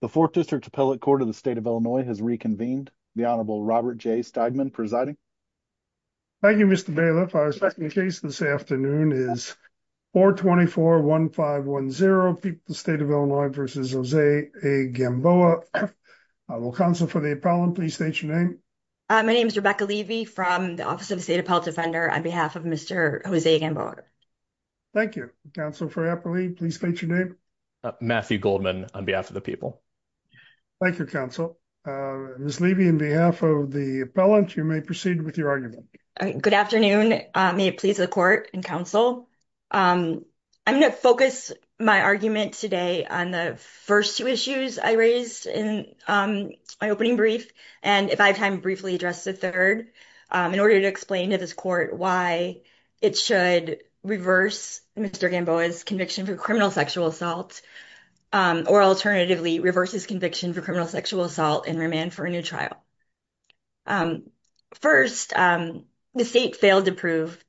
The fourth district appellate court of the state of Illinois has reconvened. The Honorable Robert J. Steigman presiding. Thank you, Mr. Bailiff. Our second case this afternoon is 424-1510, State of Illinois v. Jose A. Gamboa. Council for the appellant, please state your name. My name is Rebecca Levy from the Office of the State Appellate Defender on behalf of Mr. Jose Gamboa. Thank you. Council for the appellate, please state your name. Matthew Goldman on behalf of the people. Thank you, Council. Ms. Levy, on behalf of the appellant, you may proceed with your argument. Good afternoon. May it please the court and council. I'm going to focus my argument today on the first two issues I raised in my opening brief. And if I have time, briefly address the third in order to explain to this court why it should reverse Mr. Gamboa's conviction for sexual assault or alternatively reverse his conviction for criminal sexual assault and remand for a new trial. First, the state failed to prove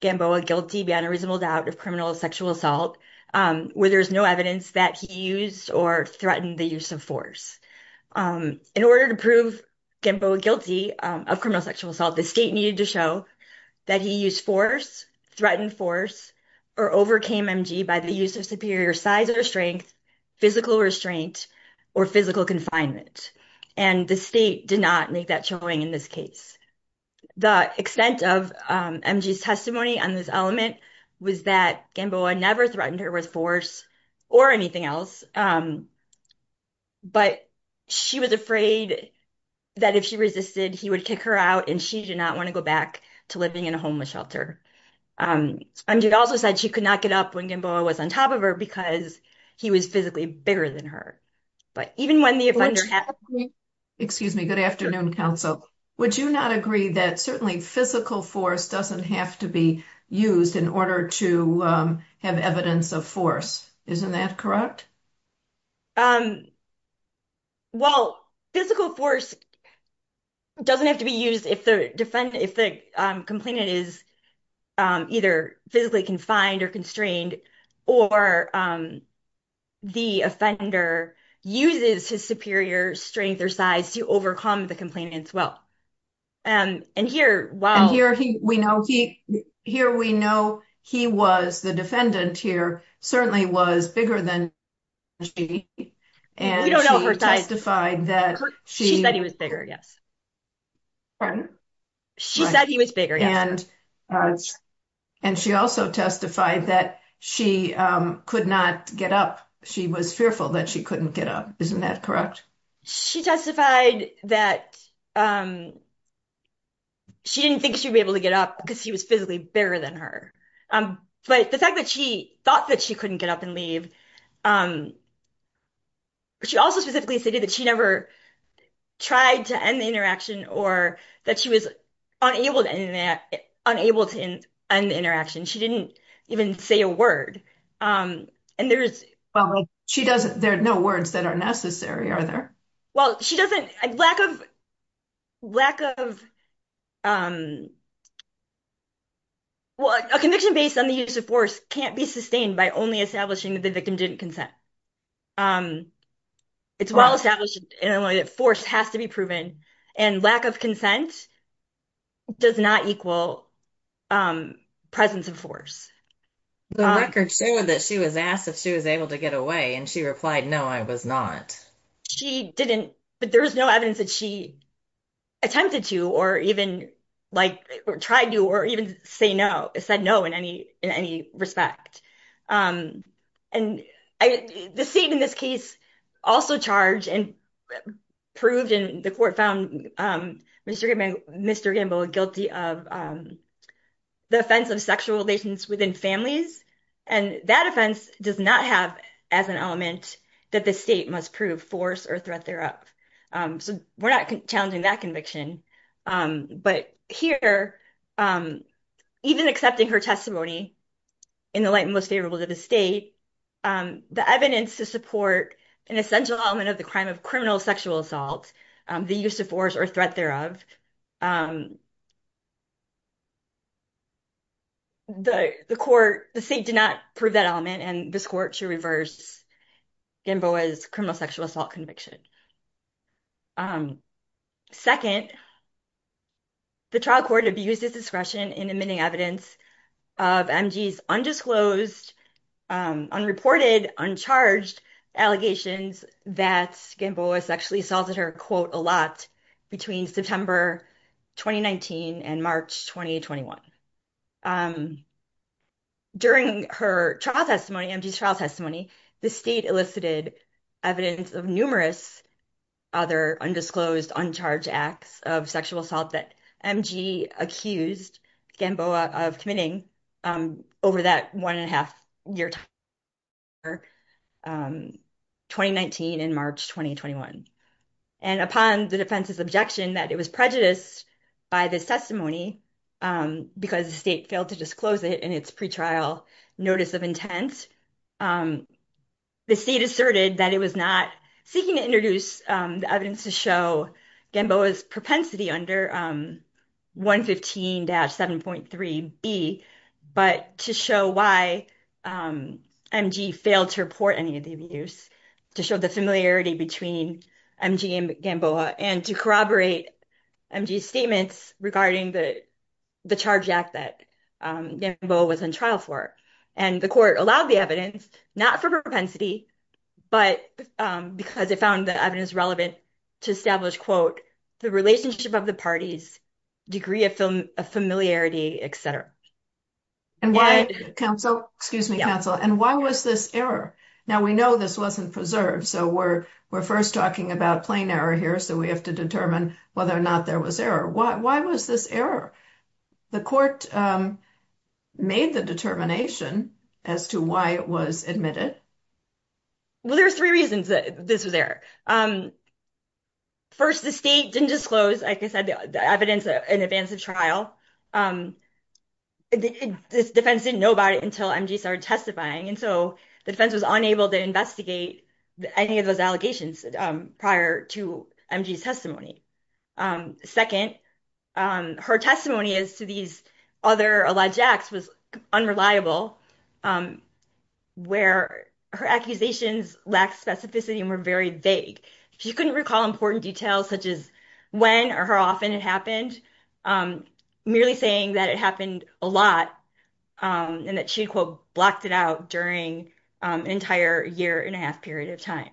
Gamboa guilty beyond a reasonable doubt of criminal sexual assault where there's no evidence that he used or threatened the use of force. In order to prove Gamboa guilty of criminal sexual assault, the state needed to show that he used force, threatened force, or overcame MG by the use of superior size or strength, physical restraint, or physical confinement. And the state did not make that showing in this case. The extent of MG's testimony on this element was that Gamboa never threatened her with force or anything else, but she was afraid that if she resisted, he would kick her out and she did not want to go back to living in a homeless shelter. MG also said she could not get up when Gamboa was on top of her because he was physically bigger than her. But even when the offender happened... Excuse me. Good afternoon, counsel. Would you not agree that certainly physical force doesn't have to be used in order to have evidence of force? Isn't that correct? Well, physical force doesn't have to be used if the defendant, if the complainant is either physically confined or constrained, or the offender uses his superior strength or size to overcome the complainant as well. And here, while... And here we know he was, the defendant here, certainly was bigger than she. We don't know her size. She said he was bigger, yes. Pardon? She said he was bigger, yes. And she also testified that she could not get up. She was fearful that she couldn't get up. Isn't that correct? She testified that she didn't think she'd be able to get up because he was physically bigger than her. But the fact that she thought that she couldn't get up and leave... She also specifically stated that she never tried to end the interaction or that she was unable to end the interaction. She didn't even say a word. And there's... Well, she doesn't... There are no words that are necessary, are there? Well, she doesn't... Lack of... Well, a conviction based on the use of force can't be sustained by only establishing that the victim didn't consent. It's well-established in a way that force has to be proven. And lack of consent does not equal presence of force. The record showed that she was asked if she was able to get away, and she replied, no, I was not. She didn't... But there was no evidence that she attempted to or even tried to or even said no in any respect. And the state in this case also charged and proved, and the court found Mr. Gamboa guilty of the offense of sexual relations within families. And that offense does not have as an element that the state must prove force or threat thereof. So we're not challenging that conviction. But here, even accepting her testimony in the light most favorable to the state, the evidence to support an essential element of the crime of criminal sexual assault, the use of force or threat thereof, the court... The state did not prove that element, and this court should reverse Gamboa's criminal sexual assault conviction. Second, the trial court abused its discretion in admitting evidence of MG's undisclosed, unreported, uncharged allegations that Gamboa sexually assaulted her, quote, a lot between September 2019 and March 2021. During her trial testimony, MG's trial testimony, the state elicited evidence of numerous other undisclosed, uncharged acts of sexual assault that MG accused Gamboa of committing over that one-and-a-half-year time period, or 2019 and March 2021. And upon the defense's objection that it was prejudiced by the testimony because the state failed to disclose it in its pretrial notice of intent, the state asserted that it was not seeking to introduce the evidence to show Gamboa's propensity under 115-7.3b, but to show why MG failed to report any of the abuse, to show the familiarity between MG and Gamboa, and to corroborate MG's statements regarding the charge act that Gamboa was on trial for. And the court allowed the evidence, not for propensity, but because it found the evidence relevant to establish, quote, the relationship of the parties, degree of familiarity, et cetera. And why, counsel, excuse me, counsel, and why was this error? Now, we know this wasn't preserved, so we're first talking about plain error here, so we have to determine whether or not there was error. Why was this error? The court made the determination as to why it was admitted. Well, there's three reasons that this was error. First, the state didn't disclose, like I said, the evidence in advance of trial. This defense didn't know about it until MG started testifying, and so the defense was unable to investigate any of those allegations prior to MG's testimony. Second, her testimony as to these other alleged acts was unreliable, where her accusations lacked specificity and were very vague. She couldn't recall important details such as when or how often it happened, merely saying that it happened a lot and that she, quote, blocked it out during an entire year and a half period of time.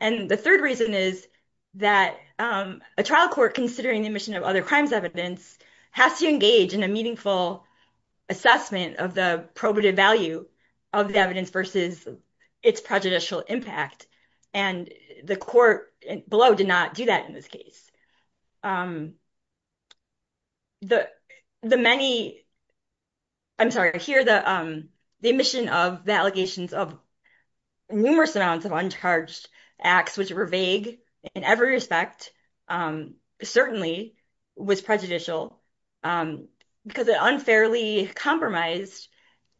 And the third reason is that a trial court, considering the admission of other evidence, has to engage in a meaningful assessment of the probative value of the evidence versus its prejudicial impact, and the court below did not do that in this case. I'm sorry. Here, the admission of the allegations of numerous amounts of uncharged acts which were in every respect certainly was prejudicial because it unfairly compromised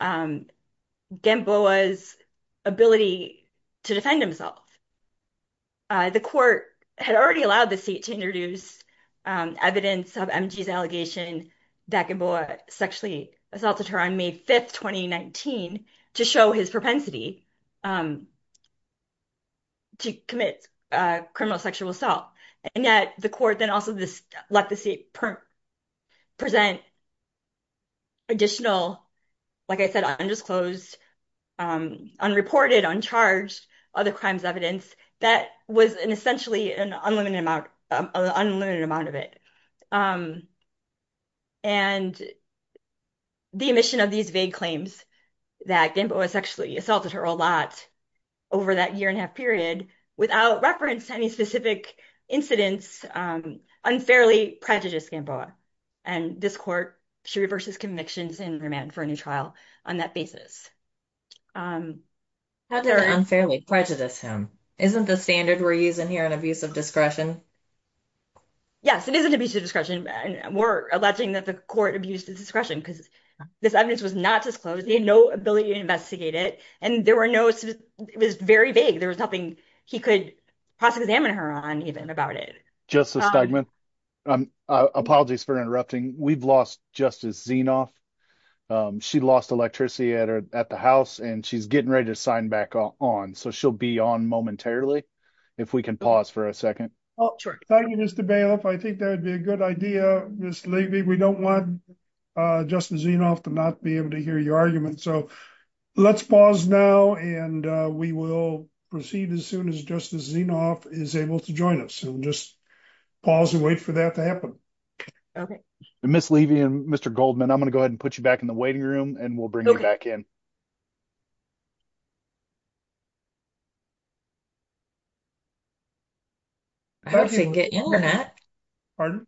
Gamboa's ability to defend himself. The court had already allowed the state to introduce evidence of MG's allegation that Gamboa sexually assaulted her on May 5th, 2019, to show his propensity to commit criminal sexual assault. And yet, the court then also let the state present additional, like I said, undisclosed, unreported, uncharged other crimes evidence that was essentially an unlimited amount of it. And the admission of these vague claims that Gamboa sexually assaulted her a lot over that year and a half period without reference to any specific incidents unfairly prejudiced Gamboa. And this court, she reverses convictions and remanded for a new trial on that basis. Had to unfairly prejudice him. Isn't the standard we're using here an abuse of discretion? Yes, it is an abuse of discretion. And we're the court abused his discretion because this evidence was not disclosed. He had no ability to investigate it. And there were no, it was very vague. There was nothing he could possibly examine her on even about it. Justice Stegman, apologies for interrupting. We've lost Justice Zinoff. She lost electricity at the house and she's getting ready to sign back on. So she'll be on momentarily. If we can pause for a second. Oh, sure. Thank you, Mr. Bailiff. I think that would be a good idea, Ms. Levy. We don't want Justice Zinoff to not be able to hear your argument. So let's pause now and we will proceed as soon as Justice Zinoff is able to join us. We'll just pause and wait for that to happen. Okay. Ms. Levy and Mr. Goldman, I'm going to go ahead and put you back in the waiting room and we'll bring you back in. I hope she can get internet. Pardon?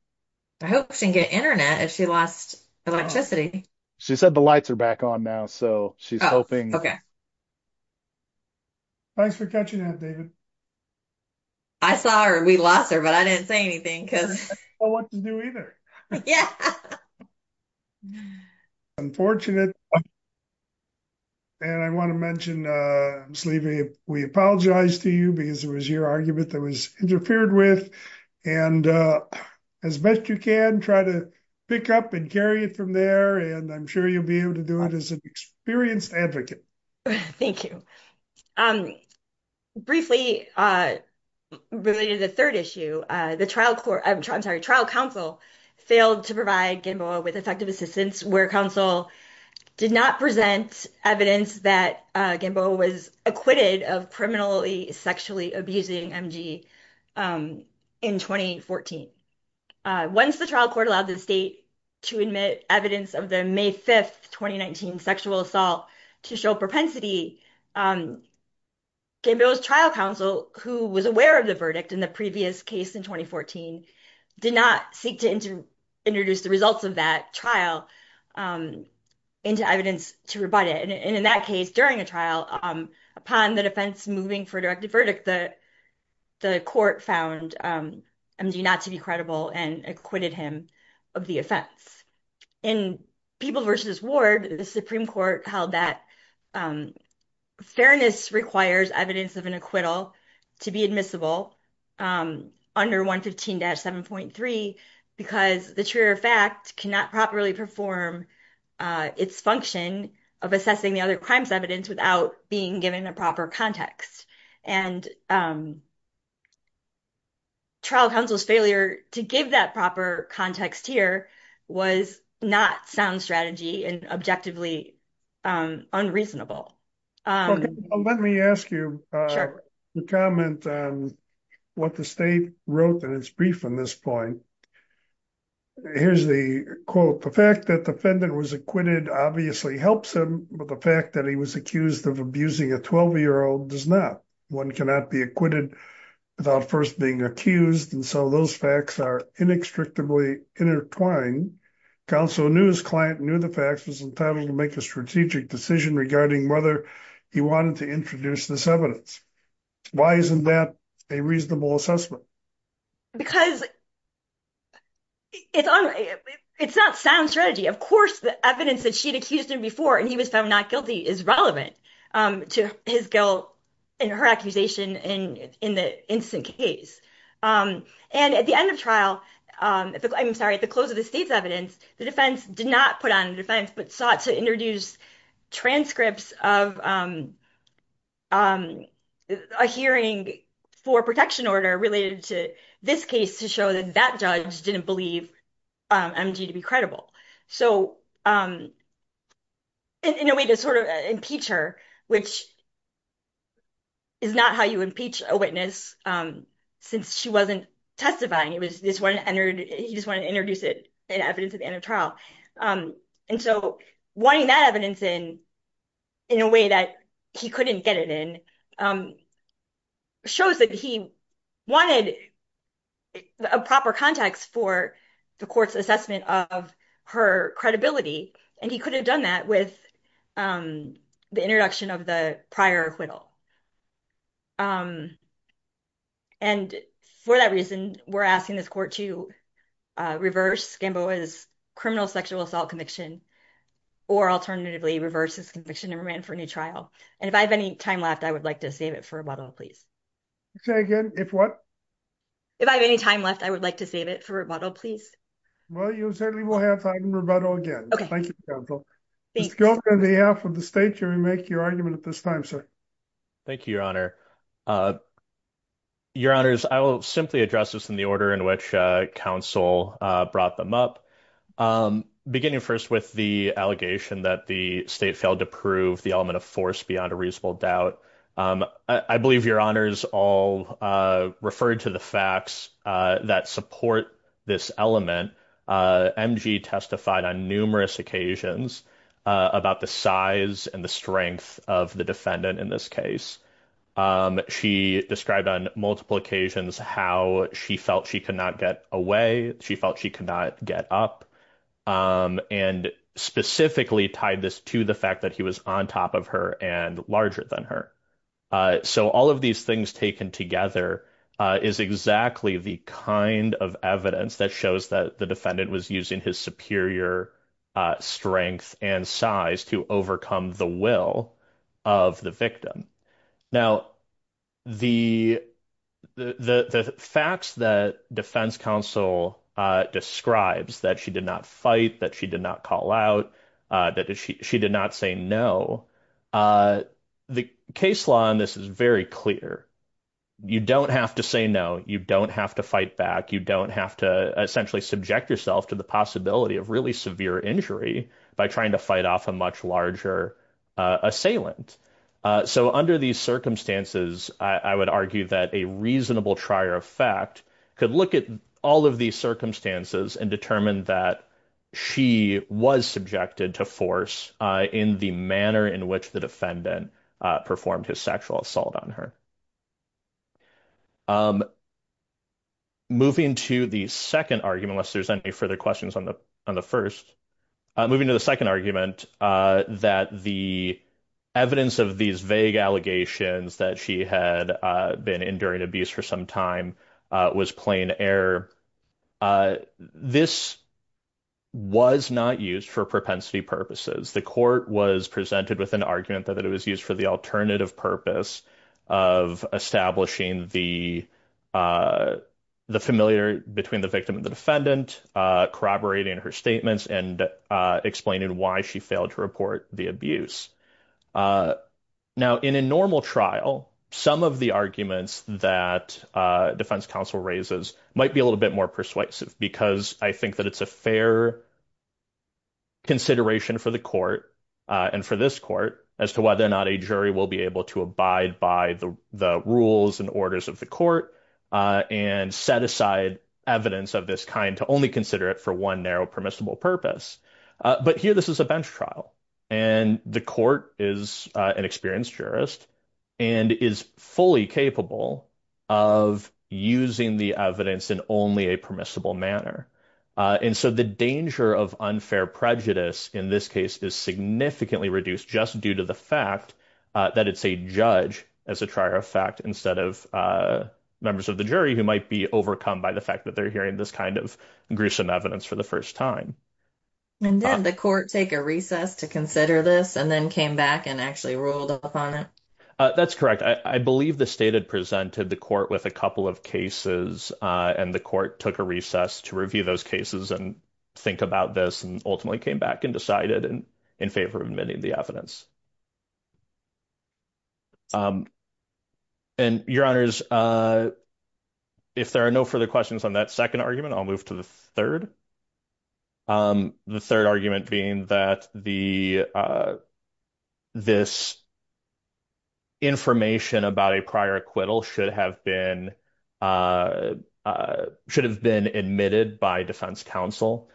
I hope she can get internet if she lost electricity. She said the lights are back on now. So she's hoping. Okay. Thanks for catching that, David. I saw her. We lost her, but I didn't say anything. I don't know what to do either. Yeah. Unfortunate. And I want to mention, Ms. Levy, we apologize to you because it was your argument that was interfered with. And as best you can, try to pick up and carry it from there. And I'm sure you'll be able to do it as an experienced advocate. Thank you. Briefly, related to the trial court, I'm sorry, trial counsel failed to provide Gamboa with effective assistance where counsel did not present evidence that Gamboa was acquitted of criminally sexually abusing MG in 2014. Once the trial court allowed the state to admit evidence of the May 5th, 2019 sexual assault to show propensity, Gamboa's trial counsel who was aware of the did not seek to introduce the results of that trial into evidence to rebut it. And in that case, during a trial, upon the defense moving for a directed verdict, the court found MG not to be credible and acquitted him of the offense. In People v. Ward, the Supreme Court held that fairness requires evidence of an acquittal to be admissible under 115-7.3, because the truer fact cannot properly perform its function of assessing the other crime's evidence without being given a proper context. And trial counsel's failure to give that proper context here was not sound strategy and objectively unreasonable. Let me ask you a comment on what the state wrote in its brief on this point. Here's the quote. The fact that the defendant was acquitted obviously helps him, but the fact that he was accused of abusing a 12-year-old does not. One cannot be acquitted without first being accused, and so those facts are inextricably intertwined. Counsel knew his client knew the facts and was entitled to make a strategic decision regarding whether he wanted to introduce this evidence. Why isn't that a reasonable assessment? Because it's not sound strategy. Of course, the evidence that she'd accused him before and he was found not guilty is relevant to his guilt and her accusation in the instant case. And at the end of trial, I'm sorry, at the close of the state's evidence, the defense did not put on the defense but sought to introduce transcripts of a hearing for protection order related to this case to show that judge didn't believe MG to be credible. So in a way to sort of impeach her, which is not how you impeach a witness since she wasn't testifying. He just wanted to introduce it in evidence at the end of trial. And so wanting that evidence in a way that he couldn't get it in a hearing shows that he wanted a proper context for the court's assessment of her credibility, and he could have done that with the introduction of the prior acquittal. And for that reason, we're asking this court to reverse Gamboa's criminal sexual assault conviction or alternatively reverse his conviction and remand for a new trial. And if I have any time left, I would like to save it for rebuttal, please. Say again, if what? If I have any time left, I would like to save it for rebuttal, please. Well, you certainly will have time rebuttal again. Thank you, counsel. Thank you on behalf of the state jury make your argument at this time, sir. Thank you, your honor. Your honors, I will simply address this in the order in which counsel brought them up. Beginning first with the allegation that the state failed to prove the element of force beyond a reasonable doubt. I believe your honors all referred to the facts that support this element. MG testified on numerous occasions about the size and the strength of the defendant in this case. She described on multiple occasions how she felt she could not get away. She felt she could not get up and specifically tied this to the fact that he was on top of her and larger than her. So all of these things taken together is exactly the kind of evidence that shows that the defendant was using his superior strength and size to overcome the will of the victim. Now, the. The facts that defense counsel describes that she did not fight that she did not call out that she did not say no. The case law on this is very clear. You don't have to say no. You don't have to fight back. You don't have to essentially subject yourself to the possibility of really severe injury by trying to fight off a much larger assailant. So under these circumstances, I would argue that a reasonable trier of fact could look at all of these circumstances and determine that she was subjected to force in the manner in which the defendant performed his sexual assault on her. Moving to the second argument, unless there's any further questions on the on the 1st, moving to the 2nd argument that the evidence of these vague allegations that she had been enduring abuse for some time was plain air. This was not used for propensity purposes. The court was presented with an argument that it was used for the alternative purpose of establishing the the familiar between the victim and the defendant, corroborating her and explaining why she failed to report the abuse. Now, in a normal trial, some of the arguments that defense counsel raises might be a little bit more persuasive because I think that it's a fair. Consideration for the court and for this court as to whether or not a jury will be able to abide by the rules and orders of the court and set aside evidence of this kind to only consider it for one narrow permissible purpose. But here this is a bench trial and the court is an experienced jurist and is fully capable of using the evidence in only a permissible manner. And so the danger of unfair prejudice in this case is significantly reduced just due to the fact that it's a judge as a trier of fact instead of members of the jury who might be overcome by the hearing this kind of gruesome evidence for the first time. And then the court take a recess to consider this and then came back and actually ruled upon it. That's correct. I believe the state had presented the court with a couple of cases and the court took a recess to review those cases and think about this and ultimately came back and decided in favor of many of the evidence. And your honors, if there are no further questions on that second argument, I'll move to the third. The third argument being that the this information about a prior acquittal should have been should have been admitted by defense counsel.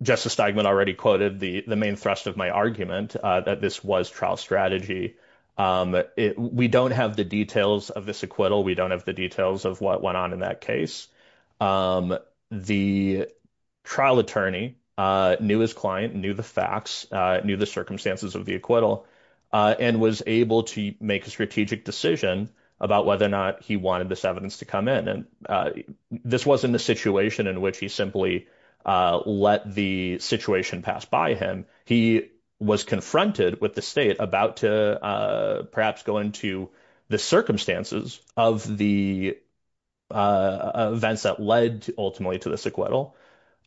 Justice Steigman already quoted the main thrust of my argument that this was trial strategy. We don't have the details of this acquittal. We don't have the details of what went on in that case. The trial attorney knew his client, knew the facts, knew the circumstances of the acquittal and was able to make a strategic decision about whether or not he wanted this evidence to come in. And this wasn't a situation in which he simply let the situation pass by him. He was confronted with the state about to perhaps go into the circumstances of the events that led ultimately to this acquittal.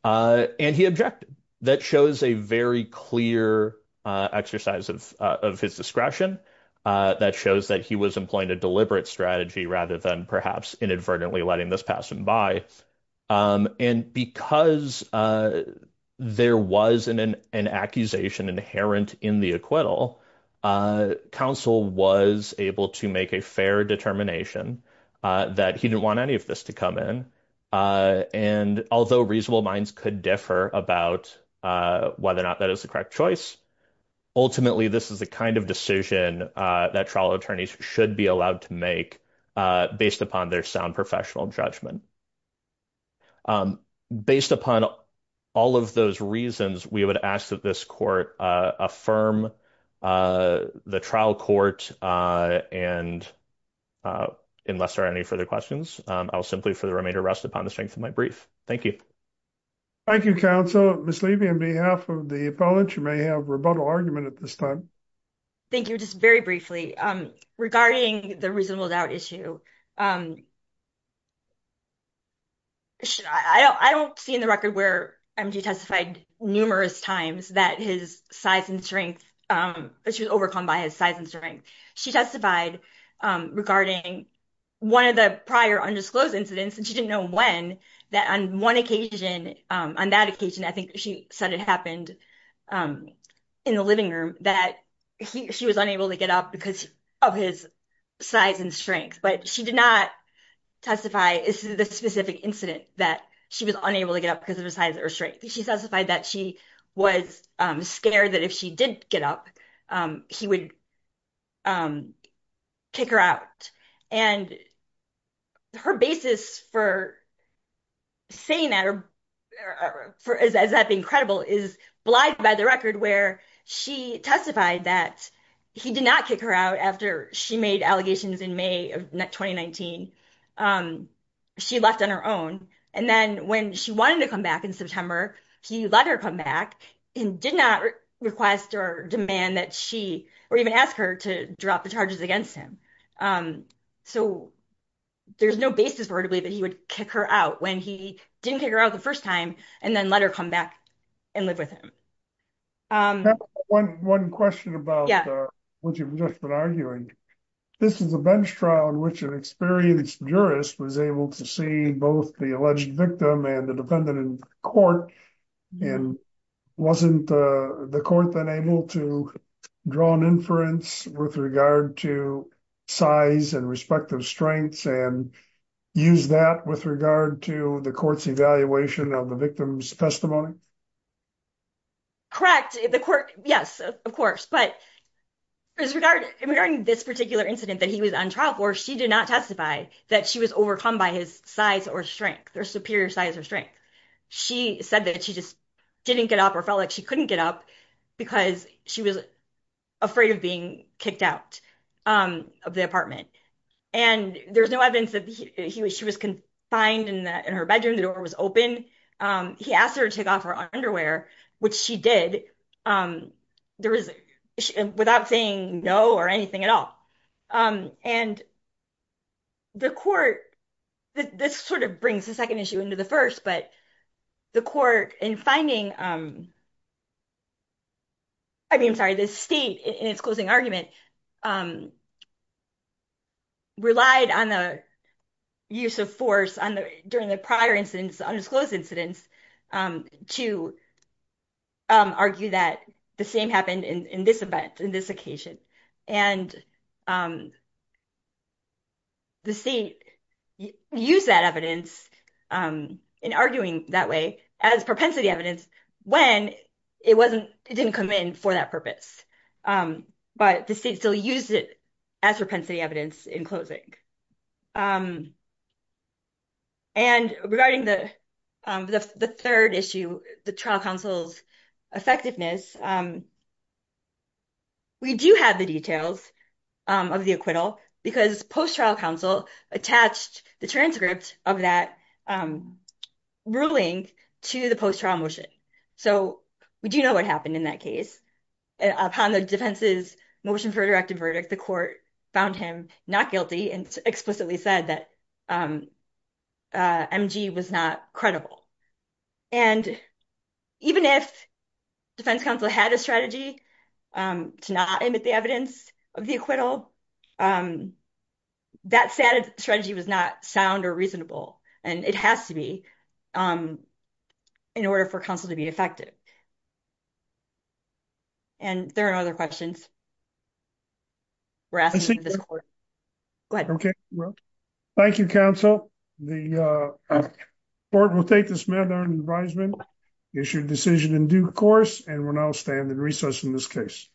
And he objected. That shows a very clear exercise of his discretion. That shows that he was employing a deliberate strategy rather than perhaps inadvertently letting this pass him by. And because there was an accusation inherent in the acquittal, counsel was able to make a fair determination that he didn't want any of this to come in. And although reasonable minds could differ about whether or not that is the correct choice, ultimately, this is the kind of decision that trial attorneys should be allowed to make based upon their sound professional judgment. Based upon all of those reasons, we would ask that this court affirm the trial court and unless there are any further questions, I will simply for the remainder rest upon the strength of my brief. Thank you. Thank you, counsel. Ms. Levy, on behalf of the appellate, you may have a rebuttal argument at this time. Thank you. Just very briefly. Regarding the reasonable doubt issue, I don't see in the record where MG testified numerous times that his size and strength, she was overcome by his size and strength. She testified regarding one of the prior undisclosed incidents, and she didn't know when, that on one occasion, on that occasion, she said it happened in the living room that she was unable to get up because of his size and strength. But she did not testify the specific incident that she was unable to get up because of her size or strength. She testified that she was scared that if she did get up, he would kick her out. And her basis for saying that, or as that being credible, is blind by the record where she testified that he did not kick her out after she made allegations in May of 2019. She left on her own. And then when she wanted to come back in September, he let her come back and did not request or demand that she, or even ask her to drop the charges against him. So there's no basis for her to believe that he would kick her out when he didn't kick her out the first time and then let her come back and live with him. One question about what you've just been arguing. This is a bench trial in which an experienced jurist was able to see both the alleged victim and the defendant in court. And wasn't the court then able to draw an inference with regard to size and respective strengths and use that with regard to the court's evaluation of the victim's testimony? Correct. Yes, of course. But regarding this particular incident that he was on trial for, she did not testify that she was overcome by his size or strength, or superior size or strength. She said that she just didn't get up or felt like she couldn't get up because she was afraid of being kicked out of the apartment. And there's no evidence that she was confined in her bedroom. The door was open. He asked her to take off her underwear, which she did without saying no or anything at all. And the court, this sort of brings the second issue into the first, but the court in finding, I'm sorry, the state in its closing argument relied on the use of force during the prior incidents, the undisclosed incidents, to argue that the same happened in this event, in this occasion. And the state used that evidence in arguing that way as propensity evidence when it didn't come in for that purpose. But the state still used it as propensity evidence in closing. And regarding the third issue, the trial counsel's effectiveness, we do have the details of the acquittal because post-trial counsel attached the transcript of that ruling to the post-trial motion. So we do know what happened in that case. Upon the defense's motion for a directive verdict, the court found him not guilty and explicitly said that MG was not credible. And even if defense counsel had a strategy to not admit the evidence of the acquittal, that strategy was not sound or reasonable. And it has to be in order for counsel to be effective. And there are other questions. Thank you, counsel. The court will take this matter in advisement, issue a decision in due course, and we'll now stand in recess in this case.